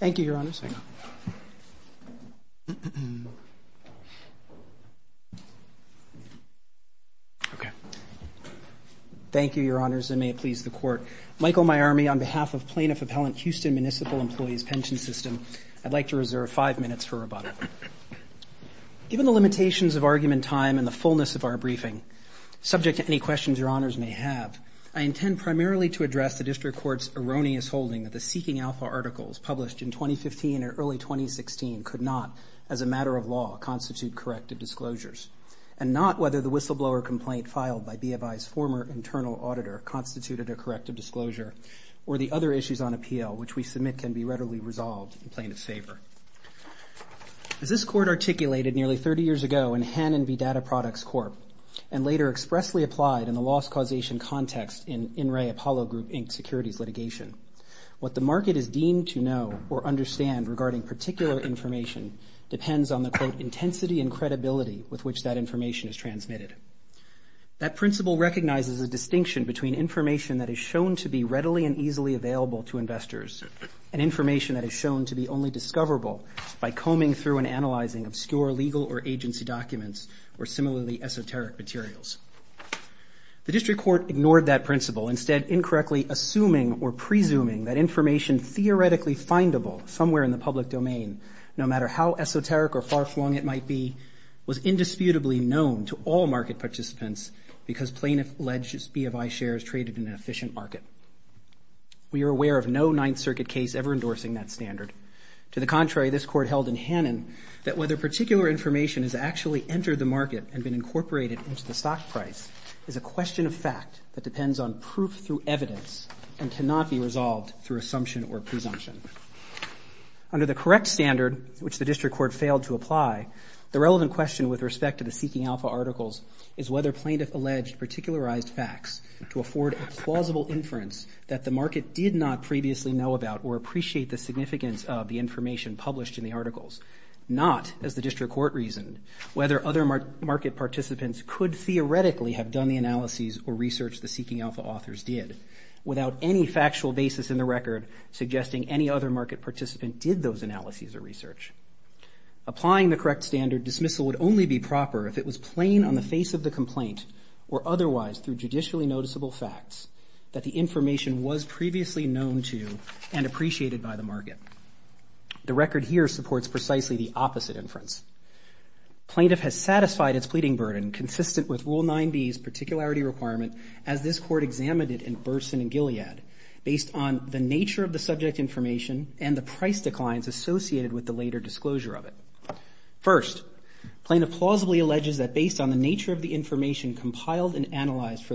Thank you, Your Honors, and may it please the Court. Michael Maiormi, on behalf of Plaintiff Appellant Houston Municipal Employees Pension System, I'd like to reserve five minutes for our briefing. Subject to any questions Your Honors may have, I intend primarily to address the District Court's erroneous holding that the Seeking Alpha articles published in 2015 and early 2016 could not, as a matter of law, constitute corrective disclosures, and not whether the whistleblower complaint filed by BofI's former internal auditor constituted a corrective disclosure, or the other issues on appeal, which we submit can be readily resolved in Plaintiff's favor. As this Court articulated nearly 30 years ago in Hanen v. Data Products Corp., and later expressly applied in the loss causation context in In Re Apollo Group, Inc. securities litigation, what the market is deemed to know or understand regarding particular information depends on the, quote, intensity and credibility with which that information is transmitted. That principle recognizes a distinction between information that is shown to be readily and easily available to investors, and information that is shown to be only discoverable by combing through and analyzing obscure legal or agency documents or similarly esoteric materials. The District Court ignored that principle, instead incorrectly assuming or presuming that information theoretically findable somewhere in the public domain, no matter how esoteric or far-flung it might be, was indisputably known to all market participants because Plaintiff alleged BofI shares traded in an efficient market. We are aware of no Ninth Circuit case ever endorsing that standard. To the contrary, this Court held in Hanen that whether particular information has actually entered the market and been incorporated into the stock price is a question of fact that depends on proof through evidence and cannot be resolved through assumption or presumption. Under the correct standard, which the District Court failed to apply, the relevant question with respect to the Seeking Alpha articles is whether Plaintiff alleged particularized facts to afford a plausible inference that the market did not previously know about or appreciate the significance of the information published in the articles, not, as the District Court reasoned, whether other market participants could theoretically have done the analyses or research the Seeking Alpha authors did, without any factual basis in the record suggesting any other market participant did those analyses or research. Applying the correct standard, dismissal would only be proper if it was plain on the face of the complaint or otherwise through judicially known to and appreciated by the market. The record here supports precisely the opposite inference. Plaintiff has satisfied its pleading burden, consistent with Rule 9b's particularity requirement as this Court examined it in Burson and Gilead, based on the nature of the subject information and the price declines associated with the later disclosure of it. First, Plaintiff plausibly alleges that based on the nature of the information compiled and analyzed for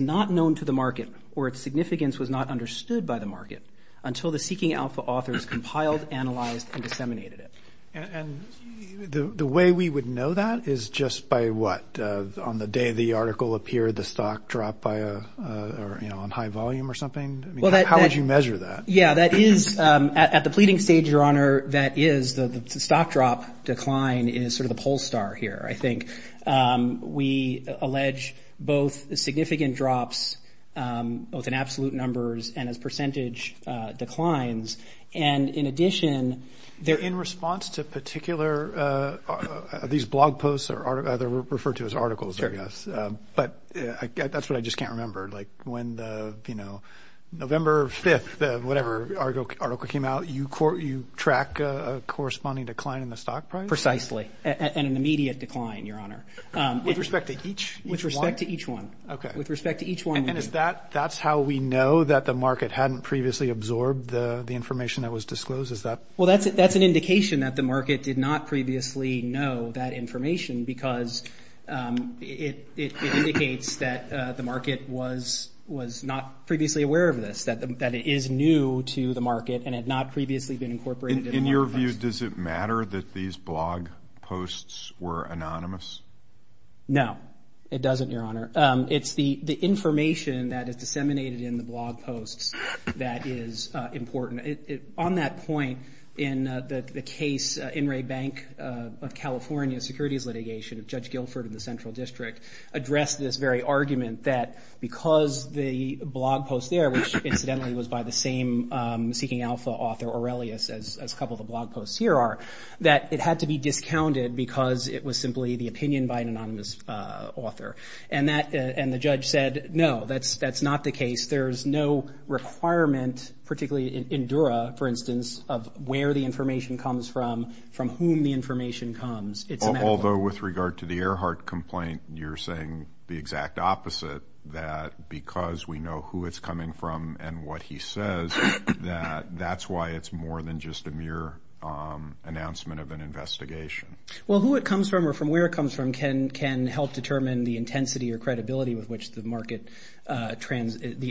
not understood by the market until the Seeking Alpha authors compiled, analyzed, and disseminated it. And the way we would know that is just by what? On the day the article appeared, the stock dropped by a, you know, on high volume or something? I mean, how would you measure that? Yeah, that is, at the pleading stage, Your Honor, that is the stock drop decline is sort of the poll star here, I think. We allege both significant drops, both in absolute numbers and as percentage declines. And in addition, they're in response to particular, these blog posts are referred to as articles, I guess. But that's what I just can't remember. Like when the, you know, November 5th, whatever article came out, you track a corresponding decline in the stock price? Precisely. And an immediate decline, Your Honor. With respect to each one? With respect to each one. Okay. With respect to each one. And is that, that's how we know that the market hadn't previously absorbed the information that was disclosed? Is that? Well, that's an indication that the market did not previously know that information because it indicates that the market was not previously aware of this, that it is new to the market and had not previously been incorporated in a blog post. In your view, does it matter that these blog posts were anonymous? No, it doesn't, Your Honor. It's the information that is disseminated in the blog posts that is important. On that point, in the case, In re Bank of California, securities litigation of Judge Guilford of the Central District, addressed this very argument that because the blog post there, which incidentally was by the same Seeking Alpha author, Aurelius, as a couple of the blog posts here are, that it had to be discounted because it was simply the opinion by an anonymous author. And the judge said, no, that's not the case. There's no requirement, particularly in Dura, for instance, of where the information comes from, from whom the information comes. Although, with regard to the Earhart complaint, you're saying the exact opposite, that because we know who it's coming from and what he says, that that's why it's more than just a mere announcement of an investigation. Well, who it comes from or from where it comes from can help determine the intensity or credibility with which the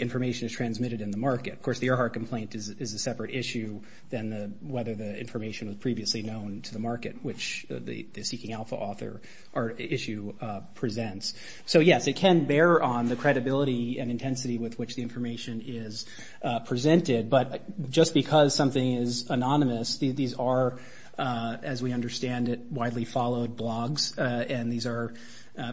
information is transmitted in the market. Of course, the Earhart complaint is a separate issue than whether the information was previously known to the market, which the Seeking Alpha author or issue presents. So yes, it can bear on the credibility and intensity with which the information is presented. But just because something is anonymous, these are, as we understand it, widely followed blogs. And these are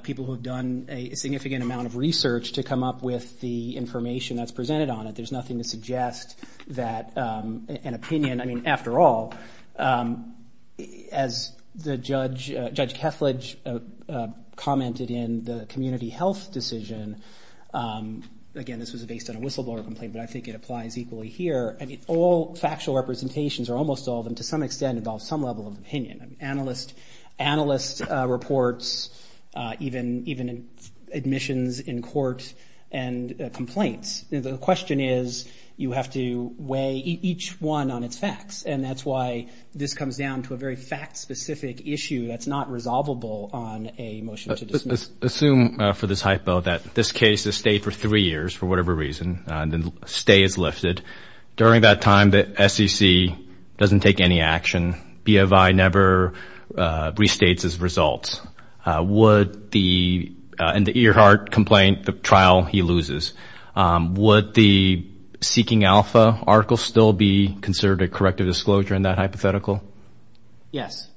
people who have done a significant amount of research to come up with the information that's presented on it. There's nothing to suggest that an opinion, I mean, after all, as Judge Kethledge commented in the community health decision, again, this was based on a whistleblower complaint, but I think it applies equally here. I mean, all factual representations or almost all of them, to some extent, involve some level of opinion. Analyst reports, even admissions in court and complaints. The question is, you have to weigh each one on its facts. And that's why this comes down to a very fact-specific issue that's not resolvable on a motion to dismiss. Assume for this hypo that this case has stayed for three years for whatever reason, and the stay is lifted. During that time, the SEC doesn't take any action. BFI never restates its results. In the Earhart complaint, the trial, he loses. Would the Seeking Alpha article still be considered a corrective disclosure in that hypothetical? Yes.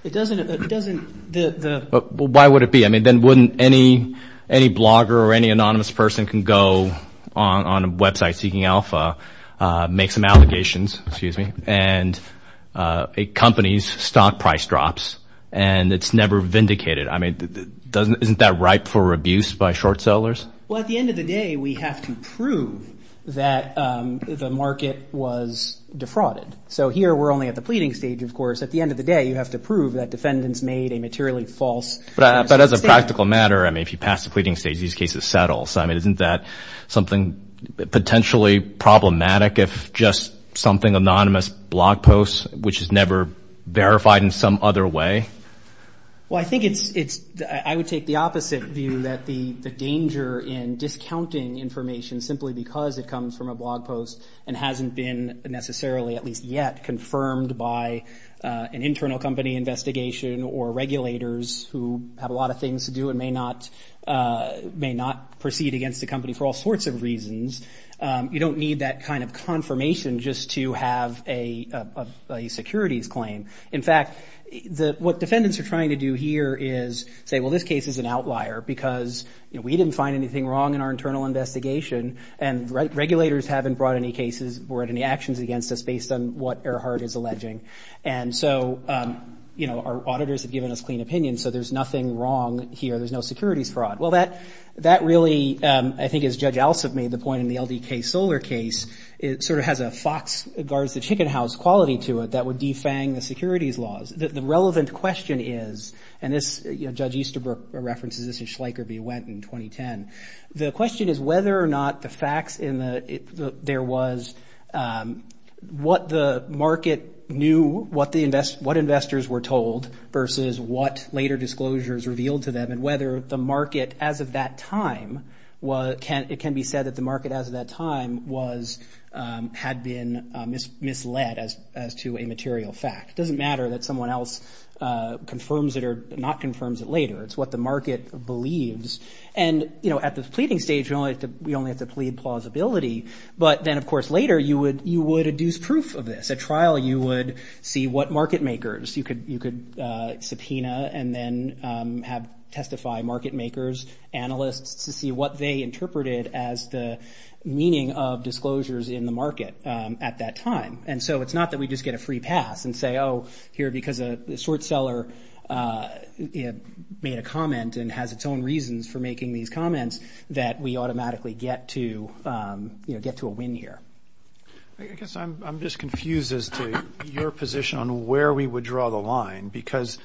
Why would it be? I mean, then wouldn't any blogger or any anonymous person can go on a website, Seeking Alpha, make some allegations, excuse me, and a company's stock price drops, and it's never vindicated? I mean, isn't that ripe for abuse by short sellers? Well, at the end of the day, we have to prove that the market was defrauded. So here we're only at the pleading stage, of course. At the end of the day, you have to prove that defendants made a materially false statement. But as a practical matter, I mean, if you pass the pleading stage, these cases settle. So I mean, isn't that something potentially problematic if just something anonymous blog posts, which is never verified in some other way? Well, I think it's, I would take the opposite view that the danger in discounting information simply because it comes from a blog post and hasn't been necessarily, at least yet, confirmed by an internal company investigation or regulators who have a lot of things to do and may not proceed against the company for all sorts of reasons. You don't need that kind of confirmation just to have a securities claim. In fact, what defendants are trying to do here is say, well, this case is an outlier because we didn't find anything wrong in our internal investigation, and regulators haven't brought any cases or had any actions against us based on what Ehrhardt is alleging. And so our auditors have given us clean opinion, so there's nothing wrong here. There's no securities fraud. Well, that really, I think as Judge Alsop made the point in the LDK Solar case, it sort of has a Fox guards the chicken house quality to it that would defang the securities laws. The relevant question is, and this, Judge Easterbrook references this, and Schleicher be went in 2010. The question is whether or not the facts in the, there was what the market knew, what investors were told versus what later disclosures revealed to them, and whether the market as of that time, it can be said that the market as of that time had been misled as to a material fact. It doesn't matter that someone else confirms it or not confirms it later. It's what the market believes. And at the pleading stage, we only have to plead plausibility. But then, of course, later you would adduce proof of this. At trial, you would see what market makers, you could subpoena and then have, testify market makers, analysts to see what they interpreted as the meaning of disclosures in the market at that time. And so it's not that we just get a free pass and say, oh, here because a short seller made a comment and has its own reasons for making these comments that we automatically get to a win here. I guess I'm just confused as to your position on where we would draw the line, because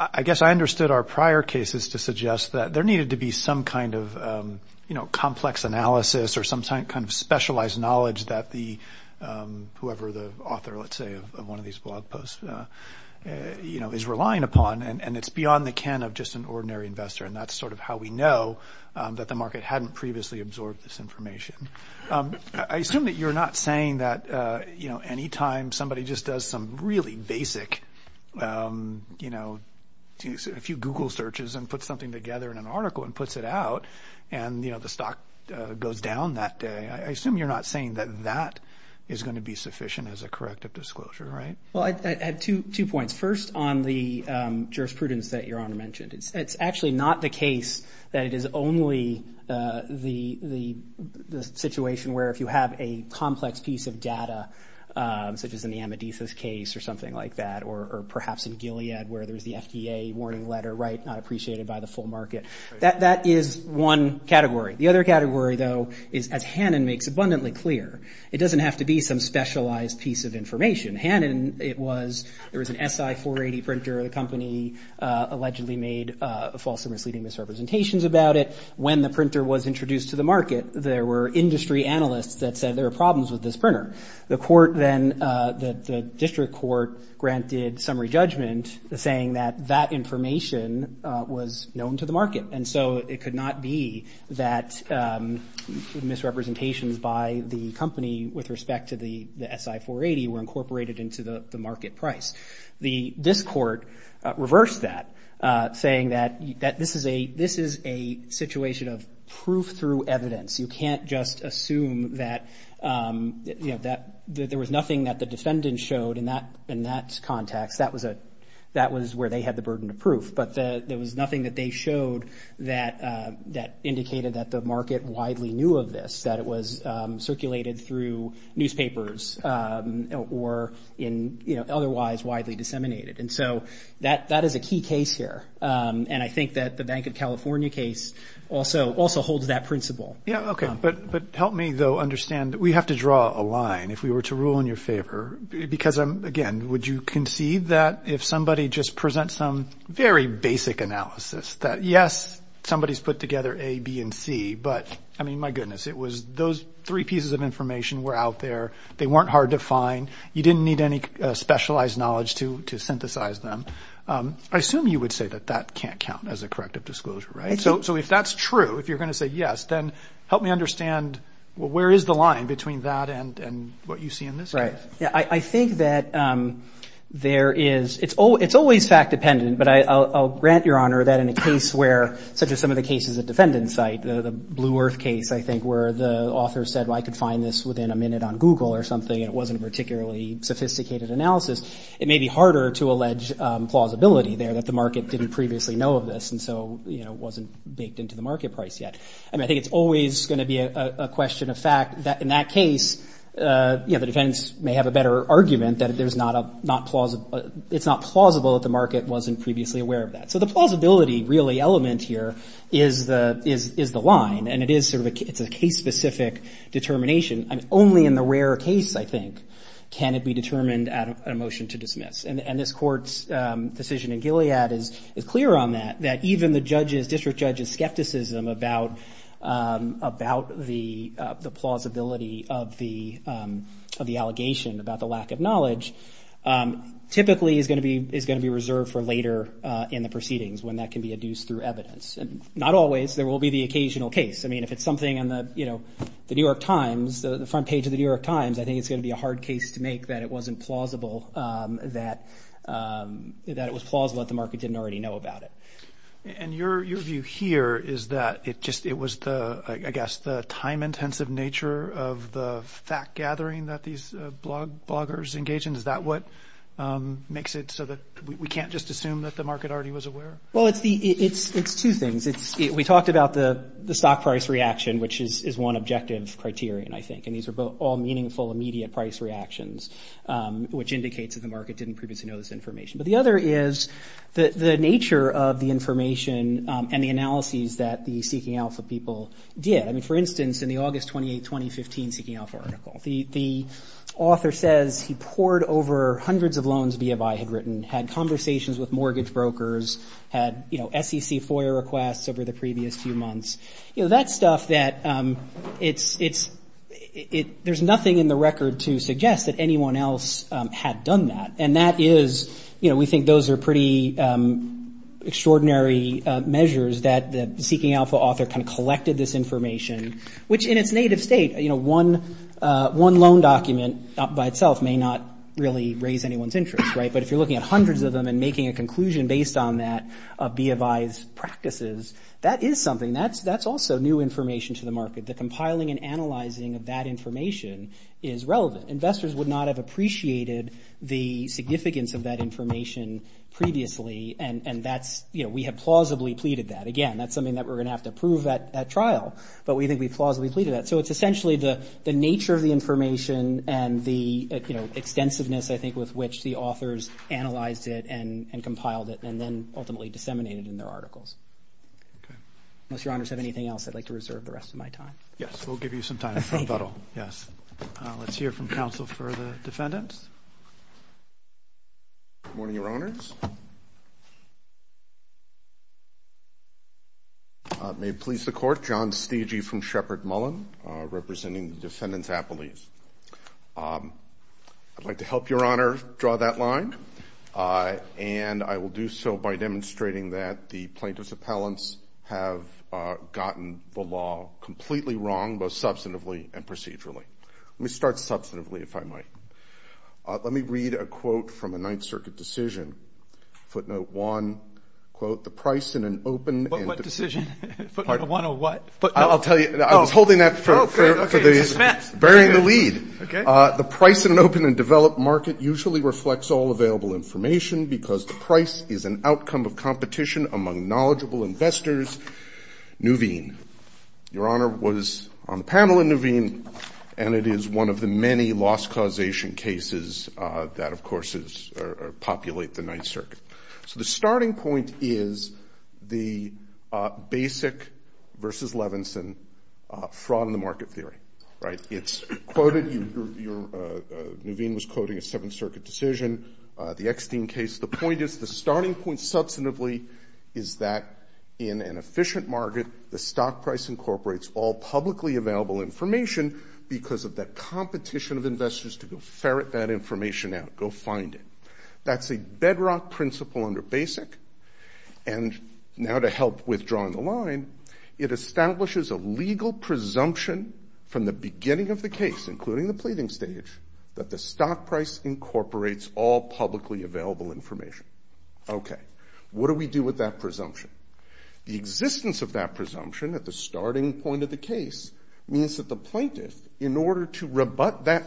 I guess I understood our prior cases to suggest that there needed to be some kind of complex analysis or some kind of specialized knowledge that the, whoever the author, let's say, of one of these blog posts is relying upon. And it's beyond the can of just an ordinary investor. And that's sort of how we know that the market hadn't previously absorbed this information. I assume that you're not saying that anytime somebody just does some really basic, a few Google searches and put something together in an article and puts it out, and the stock goes down that day. I assume you're not saying that that is going to be sufficient as a corrective disclosure, right? Well, I had two points. First, on the jurisprudence that Your Honor mentioned, it's actually not the case that it is only the situation where if you have a complex piece of data, such as in the Amadeus's case or something like that, or perhaps in Gilead where there's the FDA warning letter, right, not appreciated by the full market. That is one category. The other category, though, is as Hannon makes abundantly clear, it doesn't have to be some specialized piece of information. Hannon, it was, there was an SI-480 printer. The company allegedly made false and misleading misrepresentations about it. When the printer was introduced to the market, there were industry analysts that said there were problems with this printer. The court then, the district court, granted summary judgment saying that that information was known to the market. And so it could not be that misrepresentations by the company with respect to the SI-480 were incorporated into the market price. The district court reversed that, saying that this is a situation of proof through evidence. You can't just assume that there was nothing that the defendant showed in that context. That was where they had the burden of proof. But there was nothing that they showed that indicated that the market widely knew of this, that it was newspapers or in, you know, otherwise widely disseminated. And so that is a key case here. And I think that the Bank of California case also holds that principle. Yeah, okay. But help me, though, understand, we have to draw a line if we were to rule in your favor. Because, again, would you concede that if somebody just presents some very basic analysis that, yes, somebody's put together A, B, and C, but, I mean, my goodness, it was those three pieces of information were out there. They weren't hard to find. You didn't need any specialized knowledge to synthesize them. I assume you would say that that can't count as a corrective disclosure, right? So if that's true, if you're going to say yes, then help me understand, well, where is the line between that and what you see in this case? Right. Yeah, I think that there is, it's always fact dependent. But I'll grant your honor that in a case where, such as some of the cases at Defendant's site, the Blue Earth case, I think, where the author said, well, I could find this within a minute on Google or something, and it wasn't a particularly sophisticated analysis, it may be harder to allege plausibility there that the market didn't previously know of this. And so, you know, it wasn't baked into the market price yet. I mean, I think it's always going to be a question of fact that in that case, you know, the defendants may have a better argument that it's not plausible that the market wasn't previously aware of that. So the plausibility really element here is the line. And it is sort of a, it's a case-specific determination. I mean, only in the rare case, I think, can it be determined at a motion to dismiss. And this court's decision in Gilead is clear on that, that even the judge's, district judge's skepticism about the plausibility of the allegation, about the lack of knowledge, typically is going to be not always, there will be the occasional case. I mean, if it's something on the, you know, the New York Times, the front page of the New York Times, I think it's going to be a hard case to make that it wasn't plausible, that it was plausible that the market didn't already know about it. And your view here is that it just, it was the, I guess, the time-intensive nature of the fact-gathering that these bloggers engage in, is that what makes it so that we can't just We talked about the stock price reaction, which is one objective criterion, I think. And these are both all meaningful, immediate price reactions, which indicates that the market didn't previously know this information. But the other is the nature of the information and the analyses that the Seeking Alpha people did. I mean, for instance, in the August 28, 2015 Seeking Alpha article, the author says he poured over hundreds of loans BFI had written, had conversations with over the previous few months. You know, that stuff that it's, there's nothing in the record to suggest that anyone else had done that. And that is, you know, we think those are pretty extraordinary measures that the Seeking Alpha author kind of collected this information, which in its native state, you know, one loan document by itself may not really raise anyone's interest, right? But if you're looking at hundreds of them and making a conclusion based on that, BFI's practices, that is something that's also new information to the market. The compiling and analyzing of that information is relevant. Investors would not have appreciated the significance of that information previously. And that's, you know, we have plausibly pleaded that. Again, that's something that we're going to have to prove at trial. But we think we've plausibly pleaded that. So it's essentially the nature of the information and the extensiveness, I think, with which the authors analyzed it and compiled it and then ultimately disseminated in their articles. Unless your honors have anything else I'd like to reserve the rest of my time. Yes, we'll give you some time. Yes. Let's hear from counsel for the defendants. Good morning, your honors. May it please the court, John Stege from Shepard Mullen, representing the defendants' appellees. I'd like to help your honor draw that line. And I will do so by demonstrating that the plaintiff's appellants have gotten the law completely wrong, both substantively and procedurally. Let me start substantively, if I might. Let me read a quote from a Ninth Circuit decision. Footnote one, quote, the price in an open... What decision? Footnote one of what? I'll tell you. I was holding that for... Okay. Okay. Suspense. Bearing the lead. Okay. The price in an open and developed market usually reflects all available information because the price is an outcome of competition among knowledgeable investors. Nuveen, your honor was on the panel in Nuveen, and it is one of the many loss causation cases that, of course, populate the Ninth Circuit. So the starting point is the basic versus Levinson fraud in the market theory, right? It's quoted... Nuveen was quoting a Seventh Circuit decision, the Eckstein case. The point is, the starting point substantively is that in an efficient market, the stock price incorporates all publicly available information because of that competition of investors to go ferret that information out, go find it. That's a bedrock principle under basic. And now to help with drawing the line, it establishes a legal presumption from the beginning of the case, including the pleading stage, that the stock price incorporates all publicly available information. Okay. What do we do with that presumption? The existence of that presumption at the starting point of the case means that the plaintiff, in order to rebut that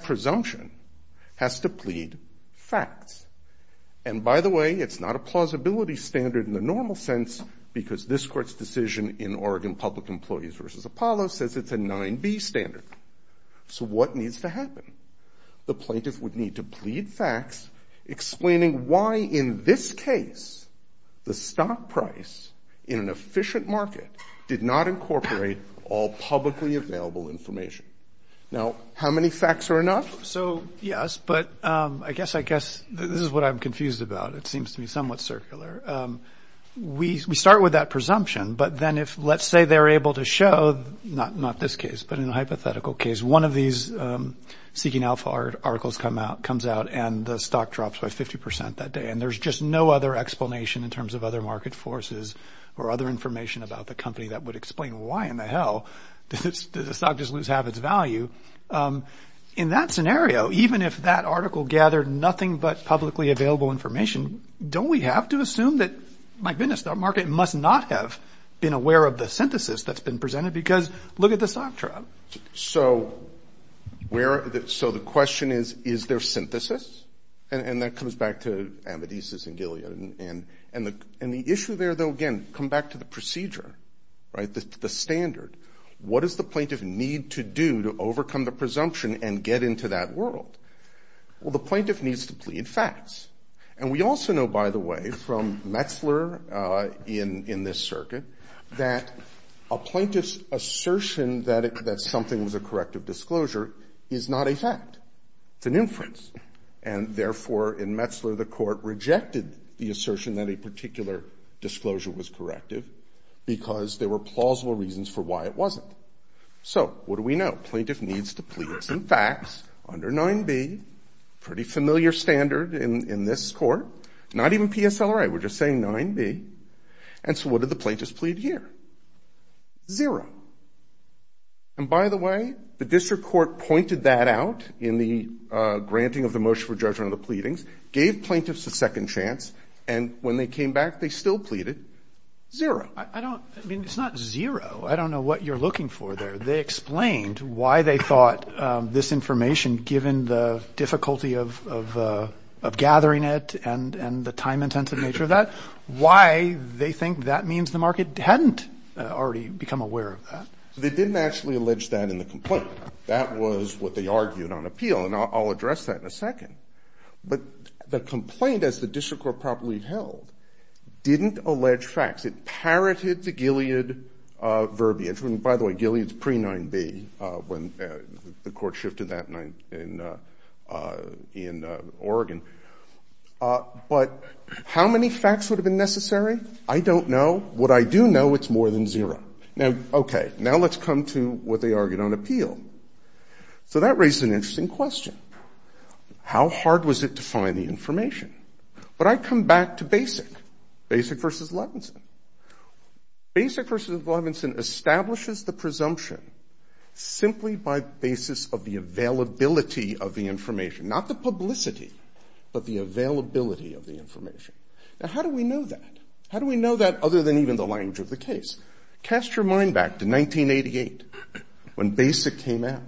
it's not a plausibility standard in the normal sense, because this court's decision in Oregon Public Employees versus Apollo says it's a 9b standard. So what needs to happen? The plaintiff would need to plead facts explaining why in this case, the stock price in an efficient market did not incorporate all publicly available information. Now, how many facts are enough? So yes, but I guess this is what I'm confused about. It seems to me somewhat circular. We start with that presumption, but then if let's say they're able to show, not this case, but in a hypothetical case, one of these seeking alpha articles comes out and the stock drops by 50% that day. And there's just no other explanation in terms of other market forces or other information about the company that would explain why in the hell did the stock just lose half its value. In that scenario, even if that publicly available information, don't we have to assume that, my goodness, the market must not have been aware of the synthesis that's been presented because look at the stock drop. So the question is, is there synthesis? And that comes back to Amadeus and Gilead. And the issue there, though, again, come back to the procedure, the standard. What does the plaintiff need to do to overcome the presumption and get into that world? Well, the plaintiff needs to plead facts. And we also know, by the way, from Metzler in this circuit, that a plaintiff's assertion that something was a corrective disclosure is not a fact. It's an inference. And therefore, in Metzler, the court rejected the assertion that a particular disclosure was corrective because there were needs to plead some facts under 9b, pretty familiar standard in this court, not even PSLRA. We're just saying 9b. And so what did the plaintiffs plead here? Zero. And by the way, the district court pointed that out in the granting of the motion for judgment of the pleadings, gave plaintiffs a second chance, and when they came back, they still pleaded zero. I mean, it's not zero. I don't know what you're looking for there. They explained why they thought this information, given the difficulty of gathering it and the time-intensive nature of that, why they think that means the market hadn't already become aware of that. They didn't actually allege that in the complaint. That was what they argued on appeal. And I'll address that in a second. But the complaint, as the district court probably held, didn't allege facts. It parroted the Gilead verbiage. And by the way, Gilead's pre-9b when the court shifted that in Oregon. But how many facts would have been necessary? I don't know. What I do know, it's more than zero. Now, okay, now let's come to what they argued on appeal. So that raises an interesting question. How hard was it to find the information? But I come back to BASIC, BASIC v. Levinson. BASIC v. Levinson establishes the presumption simply by basis of the availability of the information. Not the publicity, but the availability of the information. Now, how do we know that? How do we know that other than even the language of the case? Cast your mind back to 1988 when BASIC came out.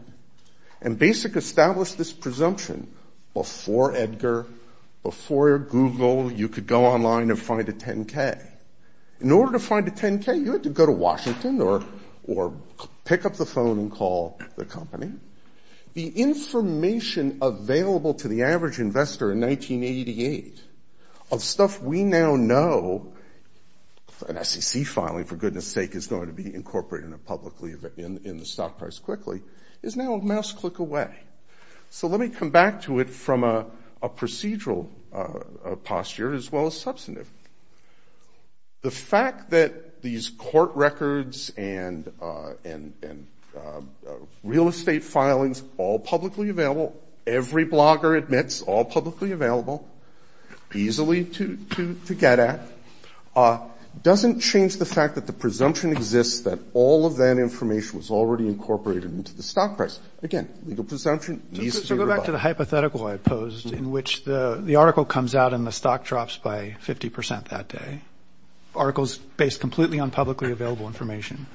And BASIC established this Google, you could go online and find a 10K. In order to find a 10K, you had to go to Washington or pick up the phone and call the company. The information available to the average investor in 1988 of stuff we now know, and SEC filing, for goodness sake, is going to be incorporated publicly in the stock price quickly, is now a mouse click away. So let me come back to it from a procedural posture as well as substantive. The fact that these court records and real estate filings, all publicly available, every blogger admits all publicly available, easily to get at, doesn't change the fact that the presumption exists that all of that information was already incorporated into the stock price. Again, legal presumption, easily reliable. So go back to the hypothetical I posed in which the article comes out and the stock drops by 50% that day, articles based completely on publicly available information.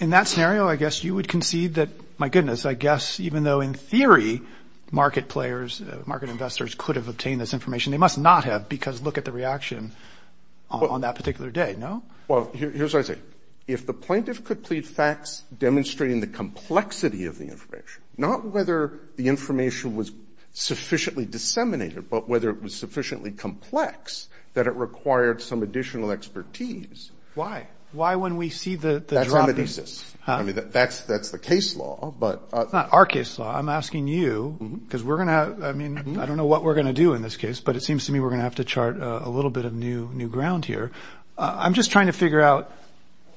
In that scenario, I guess you would concede that, my goodness, I guess even though in theory, market players, market investors could have obtained this information, they must not have because look at the reaction on that particular day, no? Well, here's what I say. If the plaintiff could plead facts demonstrating the complexity of the information, not whether the information was sufficiently disseminated, but whether it was sufficiently complex that it required some additional expertise. Why? Why when we see the dropping? That's the case law, but... Not our case law. I'm asking you because we're going to, I mean, I don't know what we're going to do in this case, but it seems to me we're going to have to chart a little bit of new ground here. I'm just trying to figure out,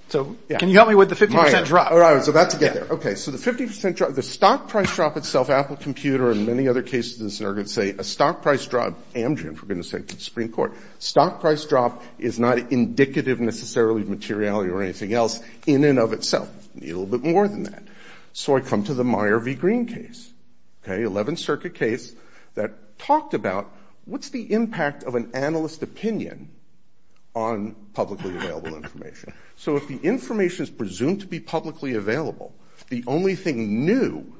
so can you help me with the 50% drop? All right, so that's to get there. Okay, so the 50% drop, the stock price drop itself, Apple Computer and many other cases are going to say a stock price drop, Amgen, for goodness sake, Supreme Court, stock price drop is not indicative necessarily of materiality or anything else in and of itself. A little bit more than that. So I come to the Meyer v. Green case, 11th Circuit case that talked about what's the impact of an analyst opinion on publicly available information. So if the information is presumed to be publicly available, the only thing new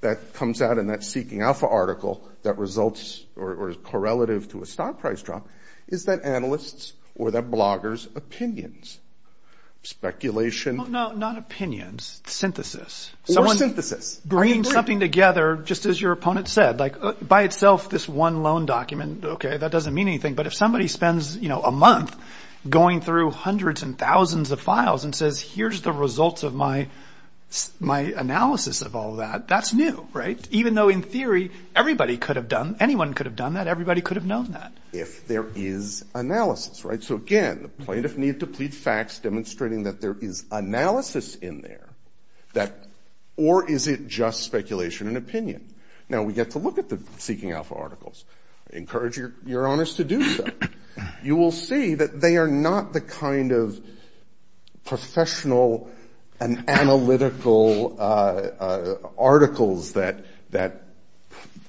that comes out in that Seeking Alpha article that results or is correlative to a stock price drop is that analyst's or that blogger's opinions, speculation... No, not opinions, synthesis. Or synthesis. Bringing something together, just as your opponent said, like by itself, this one loan document, okay, that doesn't mean anything. But if somebody spends a month going through hundreds and thousands of files and says, here's the results of my analysis of all that, that's new, right? Even though in theory, everybody could have done, anyone could have done that, everybody could have known that. If there is analysis, right? So again, the plaintiff need to plead facts demonstrating that there is analysis in there, or is it just speculation and opinion? Now we get to look at the Seeking Alpha articles. I encourage your honors to do so. You will see that they are not the kind of professional and analytical articles that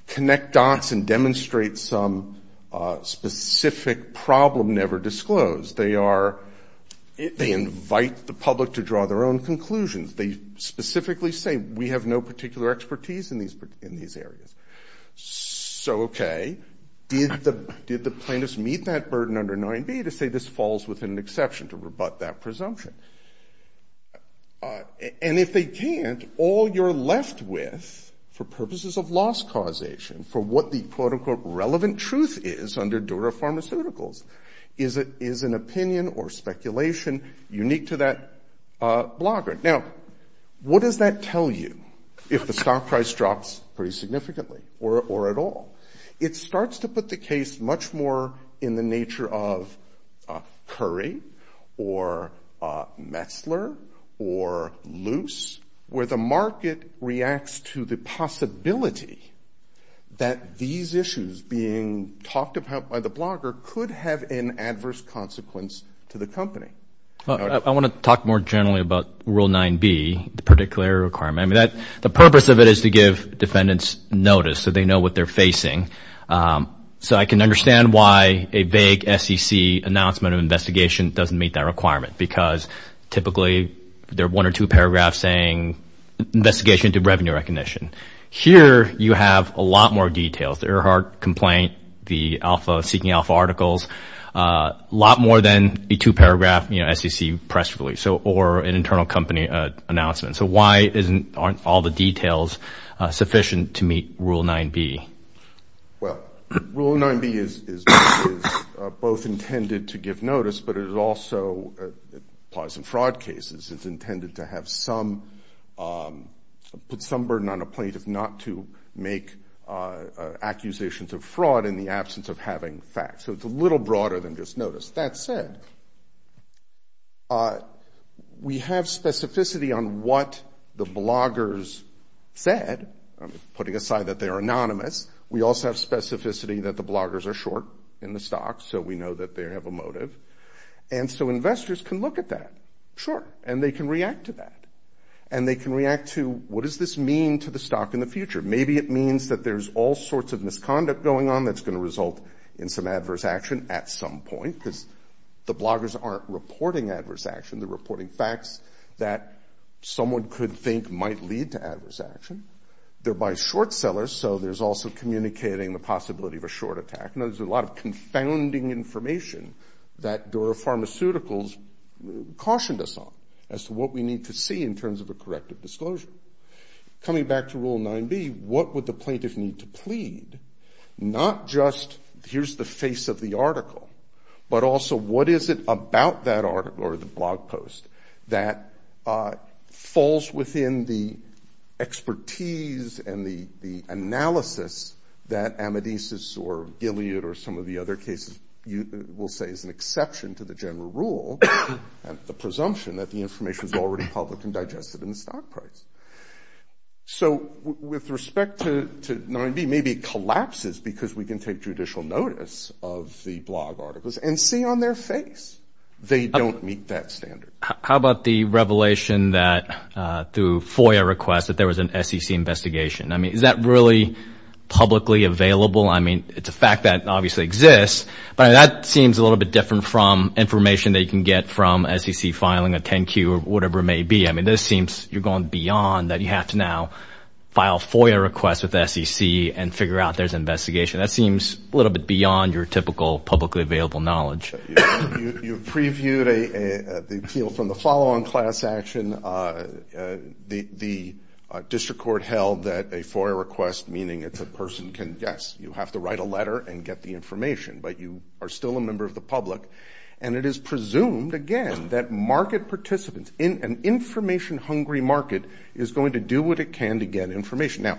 connect dots and demonstrate some specific problem never disclosed. They invite the public to draw their own conclusions. They specifically say, we have no particular expertise in these areas. So okay, did the plaintiffs meet that burden under 9b to say this falls within an exception to rebut that presumption? And if they can't, all you're left with for purposes of loss causation, for what the speculation unique to that blogger. Now, what does that tell you if the stock price drops pretty significantly or at all? It starts to put the case much more in the nature of Curry or Metzler or Luce, where the market reacts to the possibility that these issues being talked about by the blogger could have an adverse consequence to the company. I want to talk more generally about rule 9b, the particular requirement. I mean, the purpose of it is to give defendants notice so they know what they're facing. So I can understand why a vague SEC announcement of investigation doesn't meet that requirement, because typically there are one or two paragraphs saying investigation to revenue recognition. Here, you have a lot more details. The Earhart complaint, the alpha, seeking alpha articles, lot more than a two paragraph, you know, SEC press release or an internal company announcement. So why aren't all the details sufficient to meet rule 9b? Well, rule 9b is both intended to give notice, but it also applies in fraud cases. It's intended to put some burden on a plaintiff not to make accusations of fraud in the absence of having facts. So it's a little broader than just notice. That said, we have specificity on what the bloggers said, putting aside that they're anonymous. We also have specificity that the bloggers are short in the stock, so we know that they have a motive. And so investors can look at that. Sure. And they can react to that. And they can react to, what does this mean to the stock in the future? Maybe it means that there's all sorts of misconduct going on that's going to result in some adverse action at some point, because the bloggers aren't reporting adverse action. They're reporting facts that someone could think might lead to adverse action. They're by short sellers, so there's also communicating the possibility of a short attack. There's a lot of confounding information that Dura Pharmaceuticals cautioned us on as to what we need to see in terms of a corrective disclosure. Coming back to rule 9b, what would the plaintiff need to plead? Not just here's the face of the article, but also what is it about that article or the blog post that falls within the expertise and the analysis that Amadeus or Gilead or some of the other cases will say is an exception to the general rule and the presumption that the information is already public and digested in the stock price. So with respect to 9b, maybe it collapses because we can take judicial notice of the blog articles and see on their face they don't meet that standard. How about the revelation that through FOIA request that there was an SEC investigation? I mean, is that really publicly available? I mean, it's a fact that obviously exists, but that seems a little bit different from information that you can get from SEC filing a 10-Q or whatever it may be. I mean, this seems you're going beyond that you have to now file FOIA requests with SEC and figure out there's an investigation. That seems a little bit beyond your typical publicly available knowledge. You've previewed the appeal from the follow-on class action. The district court held that a FOIA request, meaning it's a person can, yes, you have to write a letter and get the information, but you are still a member of the public. And it is presumed again that market participants in an information hungry market is going to do what it can to get information. Now,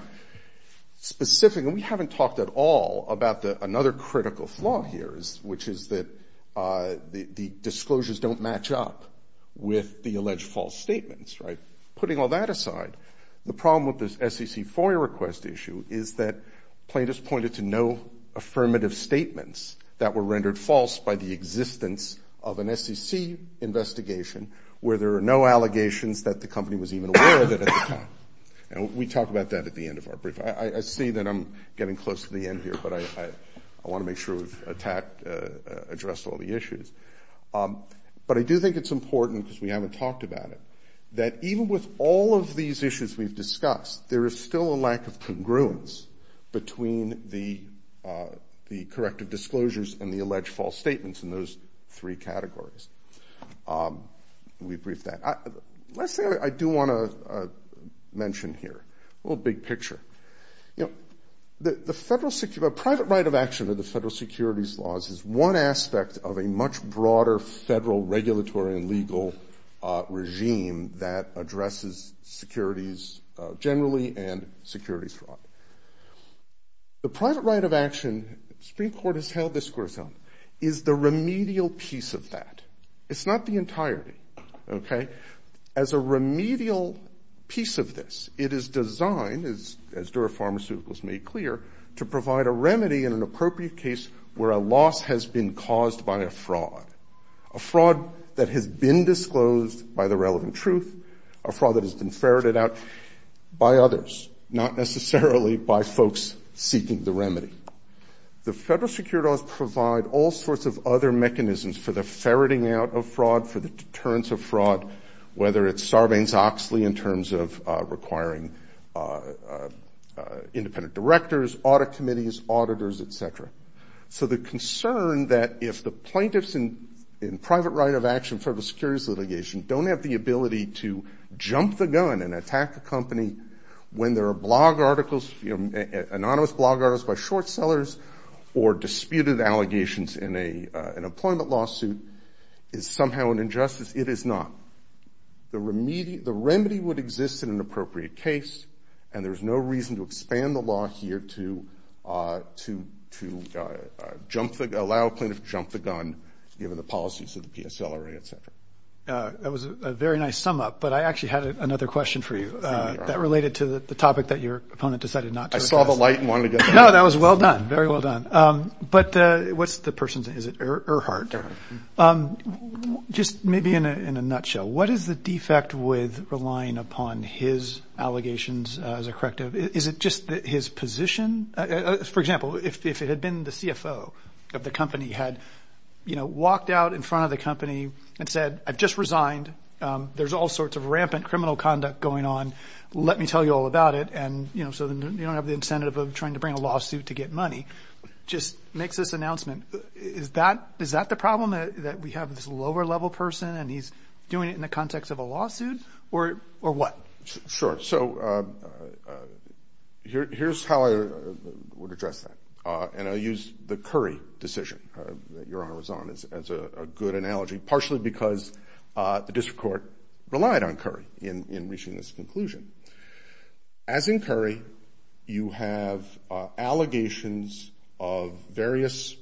specifically, we haven't talked at all about another critical flaw here, which is that the disclosures don't match up with the alleged false statements, right? Putting all that aside, the problem with this SEC FOIA request issue is that plaintiffs pointed to no affirmative statements that were rendered false by the existence of an SEC investigation where there are no allegations that the company was even aware of it at the time. And we talk about that at the end of our brief. I see that I'm getting close to the end here, but I want to make sure we've addressed all the issues. But I do think it's important, because we haven't talked about it, that even with all of these issues we've discussed, there is still a lack of congruence between the corrective disclosures and the alleged false statements in those three categories. Let's say I do want to mention here a little big picture. The private right of action of the federal securities laws is one aspect of a much broader federal regulatory and legal regime that addresses securities generally and security fraud. The private right of action, the Supreme Court has held this course on, is the remedial piece of that. It's not the entirety, okay? As a remedial piece of this, it is designed, as Dura Pharmaceuticals made clear, to provide a remedy in an appropriate case where a loss has been caused by a fraud, a fraud that has been disclosed by the relevant truth, a fraud that has been ferreted out by others, not necessarily by folks seeking the remedy. The federal securities laws provide all sorts of other mechanisms for the ferreting out of fraud, for the deterrence of fraud, whether it's Sarbanes-Oxley in terms of requiring independent directors, audit committees, auditors, etc. So the concern that if the plaintiffs in private right of action federal securities litigation don't have the ability to jump the gun and attack a company when there are blog articles, anonymous blog articles by short sellers or disputed allegations in an employment lawsuit is somehow an injustice, it is not. The remedy would exist in an appropriate case and there's no reason to expand the law here to to allow a plaintiff to jump the gun given the policies of the PSLRA, etc. That was a very nice sum up, but I actually had another question for you that related to the topic that your opponent decided not to address. I saw the light and wanted to get to it. No, that was well done, very well done. But what's the person's name, is it Earhart? Just maybe in a nutshell, what is the defect with relying upon his allegations as a corrective? Is just his position? For example, if it had been the CFO of the company had walked out in front of the company and said, I've just resigned, there's all sorts of rampant criminal conduct going on, let me tell you all about it. And so then you don't have the incentive of trying to bring a lawsuit to get money, just makes this announcement. Is that the problem that we have this lower level person and he's doing it in the context of a lawsuit or what? Sure. So here's how I would address that. And I'll use the Curry decision that your Honor was on as a good analogy, partially because the district court relied on Curry in reaching this conclusion. As in Curry, you have allegations of various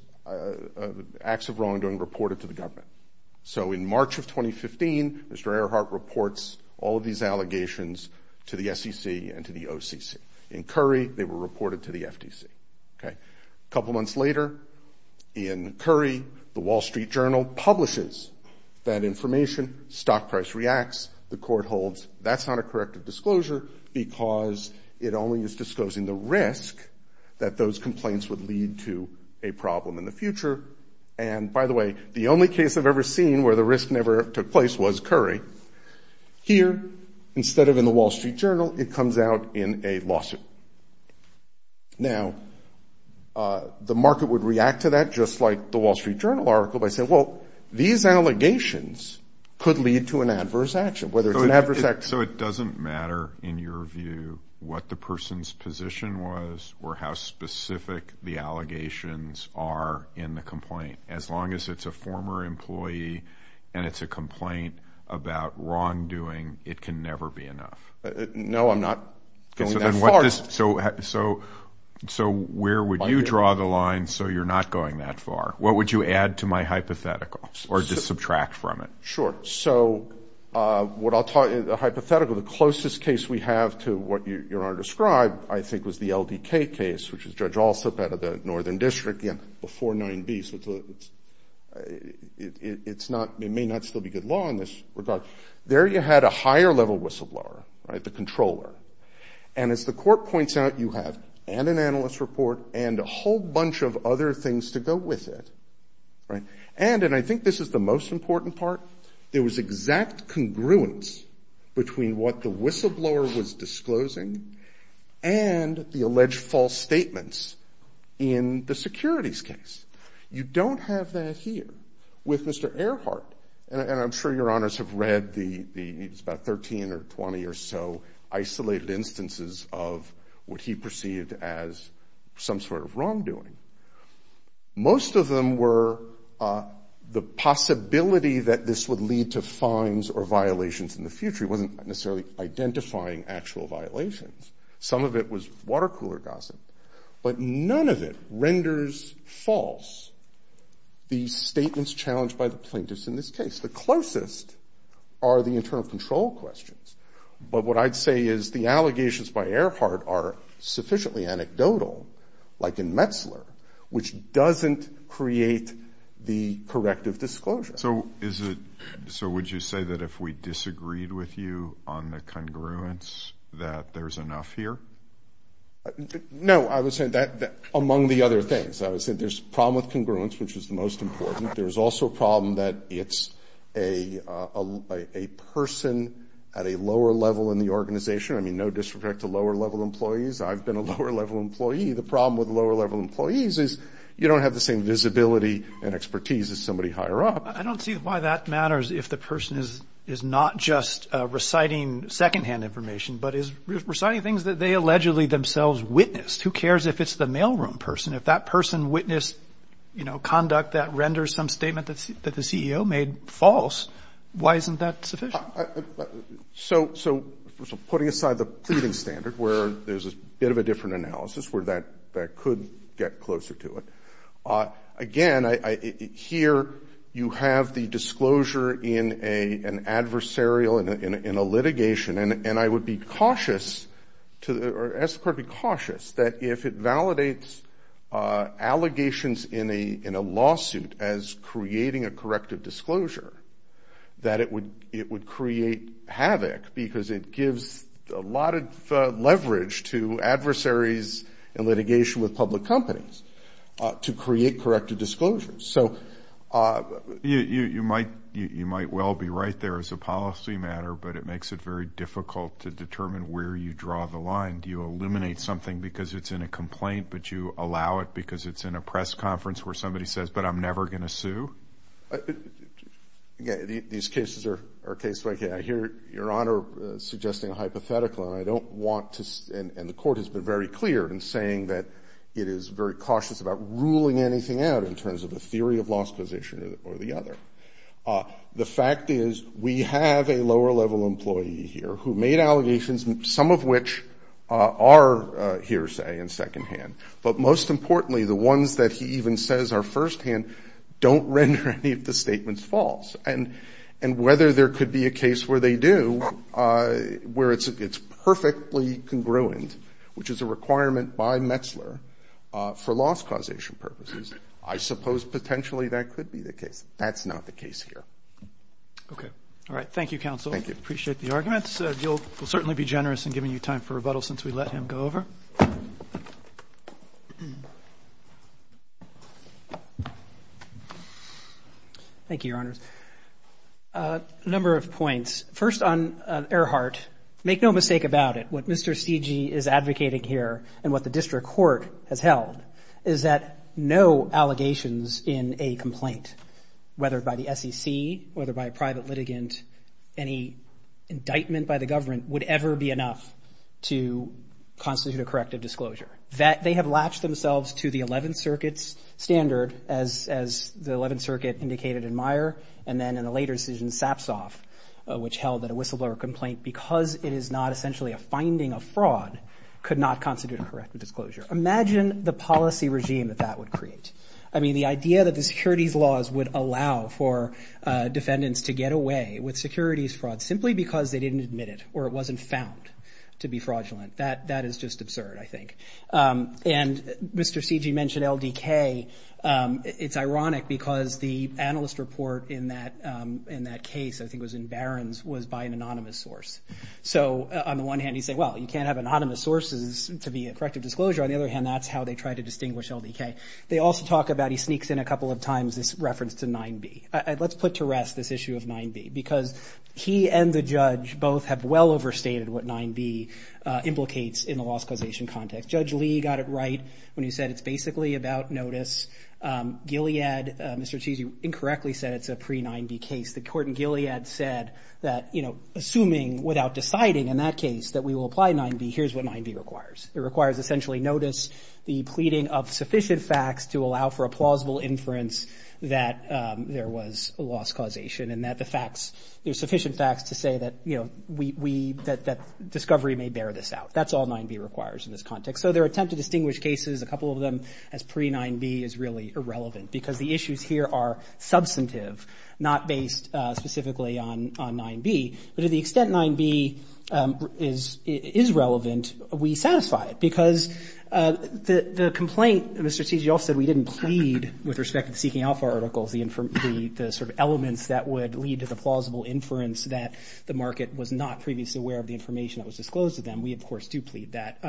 acts of wrongdoing reported to the government. So in March of 2015, Mr. Earhart reports all of these allegations to the SEC and to the OCC. In Curry, they were reported to the FTC. A couple months later in Curry, the Wall Street Journal publishes that information, stock price reacts, the court holds that's not a corrective disclosure because it only is disclosing the risk that those complaints would lead to a problem in the future. And by the way, the only case I've ever seen where the risk never took place was Curry. Here, instead of in the Wall Street Journal, it comes out in a lawsuit. Now, the market would react to that just like the Wall Street Journal article by saying, well, these allegations could lead to an adverse action, whether it's an adverse action. So it doesn't matter in your view what the person's position was or how specific the complaint. As long as it's a former employee and it's a complaint about wrongdoing, it can never be enough. No, I'm not going that far. So where would you draw the line so you're not going that far? What would you add to my hypothetical or just subtract from it? Sure. So what I'll tell you, the hypothetical, the closest case we have to what you're going to describe, I think was the LDK case, which is Judge Alsop out of the Northern District, yeah, before 9B. So it's not, it may not still be good law in this regard. There you had a higher level whistleblower, right, the controller. And as the court points out, you have and an analyst report and a whole bunch of other things to go with it, right? And, and I think this is the most important part, there was exact congruence between what the whistleblower was disclosing and the alleged false statements in the securities case. You don't have that here with Mr. Earhart. And I'm sure your honors have read the, the, it's about 13 or 20 or so isolated instances of what he perceived as some sort of wrongdoing. Most of them were the possibility that this would lead to fines or violations in the future. It wasn't necessarily identifying actual violations. Some of it was water cooler gossip, but none of it renders false the statements challenged by the plaintiffs in this case. The closest are the internal control questions. But what I'd say is the allegations by Earhart are sufficiently anecdotal, like in Metzler, which doesn't create the corrective disclosure. So is it, so would you say that if we disagreed with you on the congruence that there's enough here? No, I would say that among the other things, I would say there's a problem with congruence, which is the most important. There's also a problem that it's a, a, a person at a lower level in the organization. I mean, no disrespect to lower level employees. I've been a lower level employee. The problem with lower level employees is you don't have the same visibility and expertise as somebody higher up. I don't see why that matters if the person is, is not just reciting secondhand information, but is reciting things that they allegedly themselves witnessed. Who cares if it's the mailroom person? If that person witnessed, you know, conduct that renders some statement that's, that the CEO made false, why isn't that sufficient? So, so putting aside the pleading standard where there's a bit of a different analysis where that, that could get closer to it. Again, I, I, here you have the disclosure in a, an adversarial, in a, in a, in a litigation and, and I would be cautious to, or I would be cautious that if it validates allegations in a, in a lawsuit as creating a corrective disclosure, that it would, it would create havoc because it gives a lot of leverage to adversaries in litigation with public companies to create corrective disclosures. So, you, you, you might, you might well be right there as a policy matter, but it makes it very difficult to determine where you draw the line. Do you eliminate something because it's in a complaint, but you allow it because it's in a press conference where somebody says, but I'm never going to sue? Again, these cases are, are case by case. I hear your Honor suggesting a hypothetical and I don't want to, and the court has been very clear in saying that it is very cautious about ruling anything out in terms of a theory of loss position or the other. The fact is we have a lower level employee here who made allegations, some of which are hearsay and secondhand, but most importantly, the ones that he even says are firsthand, don't render any of the statements false and, and whether there could be a case where they do, where it's, it's perfectly congruent, which is a requirement by Metzler for loss causation purposes. I suppose potentially that could be the case. That's not the case here. Okay. All right. Thank you, counsel. Thank you. Appreciate the arguments. You'll, we'll certainly be generous in giving you time for rebuttal since we let him go over. Thank you, Your Honors. A number of points. First on Earhart, make no mistake about it. What Mr. Cigi is advocating here and what the district court has held is that no allegations in a complaint, whether by the SEC, whether by a private litigant, any indictment by the that they have latched themselves to the 11th circuit's standard as, as the 11th circuit indicated in Meyer, and then in a later decision Sapsoff, which held that a whistleblower complaint, because it is not essentially a finding of fraud, could not constitute a corrective disclosure. Imagine the policy regime that that would create. I mean, the idea that the securities laws would allow for defendants to get away with securities fraud simply because they didn't admit it, or it wasn't found to be fraudulent. That, that is just absurd, I think. And Mr. Cigi mentioned LDK. It's ironic because the analyst report in that, in that case, I think it was in Barron's, was by an anonymous source. So on the one hand, you say, well, you can't have anonymous sources to be a corrective disclosure. On the other hand, that's how they try to distinguish LDK. They also talk about, he sneaks in a couple of times, this reference to 9B. Let's put to rest this issue of 9B, because he and the judge both have well overstated what 9B implicates in the loss causation context. Judge Lee got it right when he said it's basically about notice. Gilead, Mr. Cigi incorrectly said it's a pre-9B case. The court in Gilead said that, you know, assuming without deciding in that case that we will apply 9B, here's what 9B requires. It requires essentially notice, the pleading of sufficient facts to allow for a plausible inference that there was a loss causation and that the facts, you know, sufficient facts to say that, you know, we, that discovery may bear this out. That's all 9B requires in this context. So their attempt to distinguish cases, a couple of them, as pre-9B is really irrelevant, because the issues here are substantive, not based specifically on 9B. But to the extent 9B is relevant, we satisfy it, because the complaint, Mr. Cigi also said we didn't plead with respect to the Seeking Alpha articles, the sort of elements that would lead to the plausible inference that the market was not previously aware of the information that was disclosed to them. We, of course, do plead that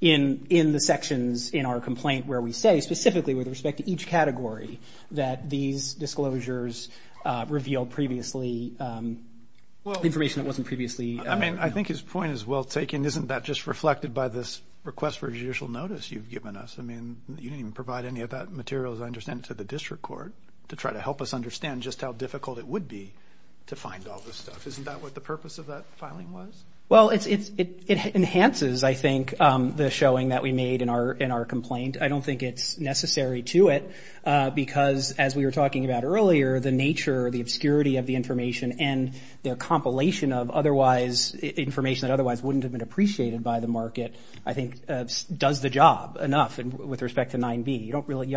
in the sections in our complaint where we say specifically with respect to each category that these disclosures revealed previously information that wasn't previously. I mean, I think his point is well taken. Isn't that just reflected by this request for judicial notice you've given us? I mean, you didn't even provide any of that material, as I understand, to the district court to try to help us understand just how difficult it would be to find all this stuff. Isn't that what the purpose of that filing was? Well, it enhances, I think, the showing that we made in our complaint. I don't think it's necessary to it, because as we were talking about earlier, the nature, the obscurity of the information and their compilation of otherwise, information that otherwise wouldn't have been appreciated by the market, I think, does the job enough with respect to 9B. You don't really,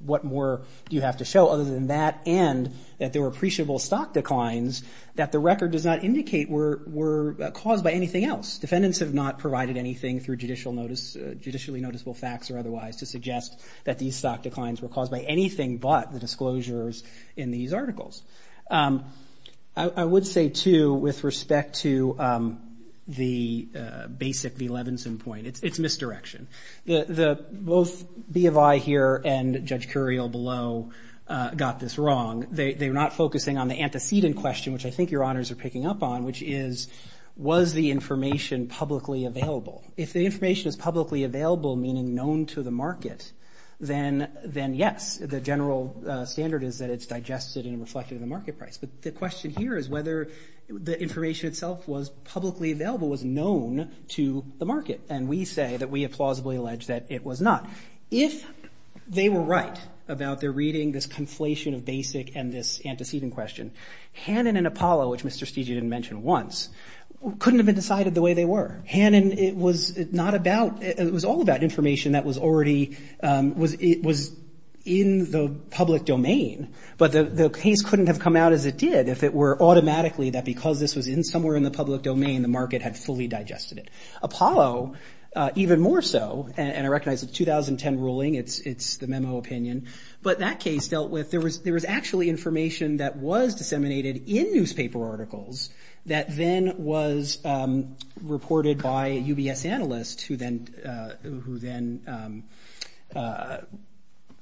what more do you have to show other than that and that there were appreciable stock declines that the record does not indicate were caused by anything else. Defendants have not provided anything through judicially noticeable facts or otherwise to suggest that these stock declines were caused by anything but the disclosures in these articles. I would say, too, with respect to the basic V. Levinson point, it's misdirection. Both B of I here and Judge Curiel below got this wrong. They're not focusing on the antecedent question, which I think your honors are picking up on, which is, was the information publicly available? If the information is publicly available, meaning known to the market, then yes, the general standard is that it's digested and publicly available was known to the market, and we say that we have plausibly alleged that it was not. If they were right about their reading this conflation of basic and this antecedent question, Hannon and Apollo, which Mr. Steegey didn't mention once, couldn't have been decided the way they were. Hannon, it was not about, it was all about information that was already, it was in the public domain, but the case couldn't have come out as it did if it were in the public domain, the market had fully digested it. Apollo, even more so, and I recognize the 2010 ruling, it's the memo opinion, but that case dealt with, there was actually information that was disseminated in newspaper articles that then was reported by a UBS analyst who then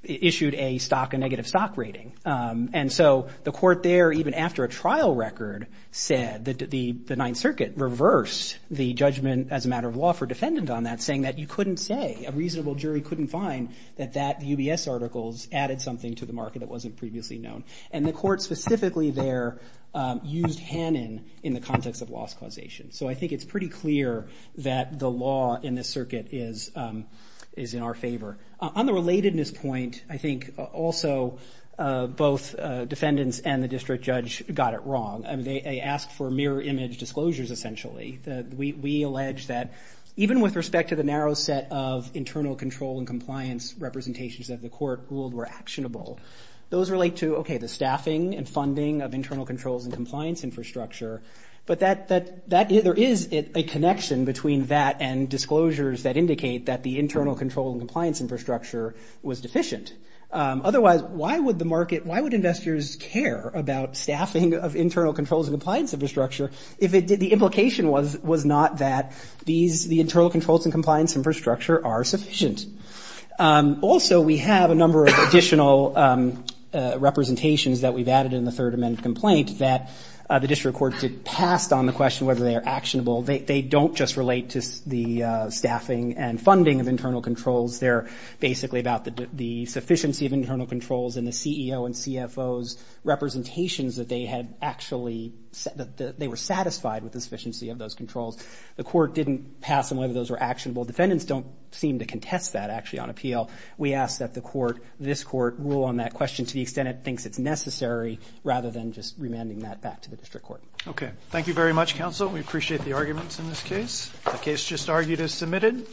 issued a negative stock rating. And so the court there, even after a trial record, said that the Ninth Circuit reversed the judgment as a matter of law for defendant on that, saying that you couldn't say, a reasonable jury couldn't find that that UBS articles added something to the market that wasn't previously known. And the court specifically there used Hannon in the context of loss causation. So I think it's pretty clear that the law in this circuit is in our favor. On the relatedness point, I think also both defendants and the district judge got it wrong. They asked for mirror image disclosures, essentially. We allege that even with respect to the narrow set of internal control and compliance representations that the court ruled were actionable, those relate to, okay, the staffing and funding of internal controls and compliance infrastructure, but there is a connection between that and disclosures that indicate that the internal control and compliance infrastructure was deficient. Otherwise, why would the market, why would investors care about staffing of internal controls and compliance infrastructure if the implication was not that these, the internal controls and compliance infrastructure are sufficient? Also, we have a number of additional representations that we've added in the Third Amendment complaint that the district court did passed on the question whether they are actionable. They don't just relate to the staffing and funding of internal controls and the CEO and CFO's representations that they had actually, that they were satisfied with the sufficiency of those controls. The court didn't pass on whether those were actionable. Defendants don't seem to contest that, actually, on appeal. We ask that the court, this court, rule on that question to the extent it thinks it's necessary, rather than just remanding that back to the district court. Okay. Thank you very much, counsel. We appreciate the arguments in this case. The case just argued is submitted.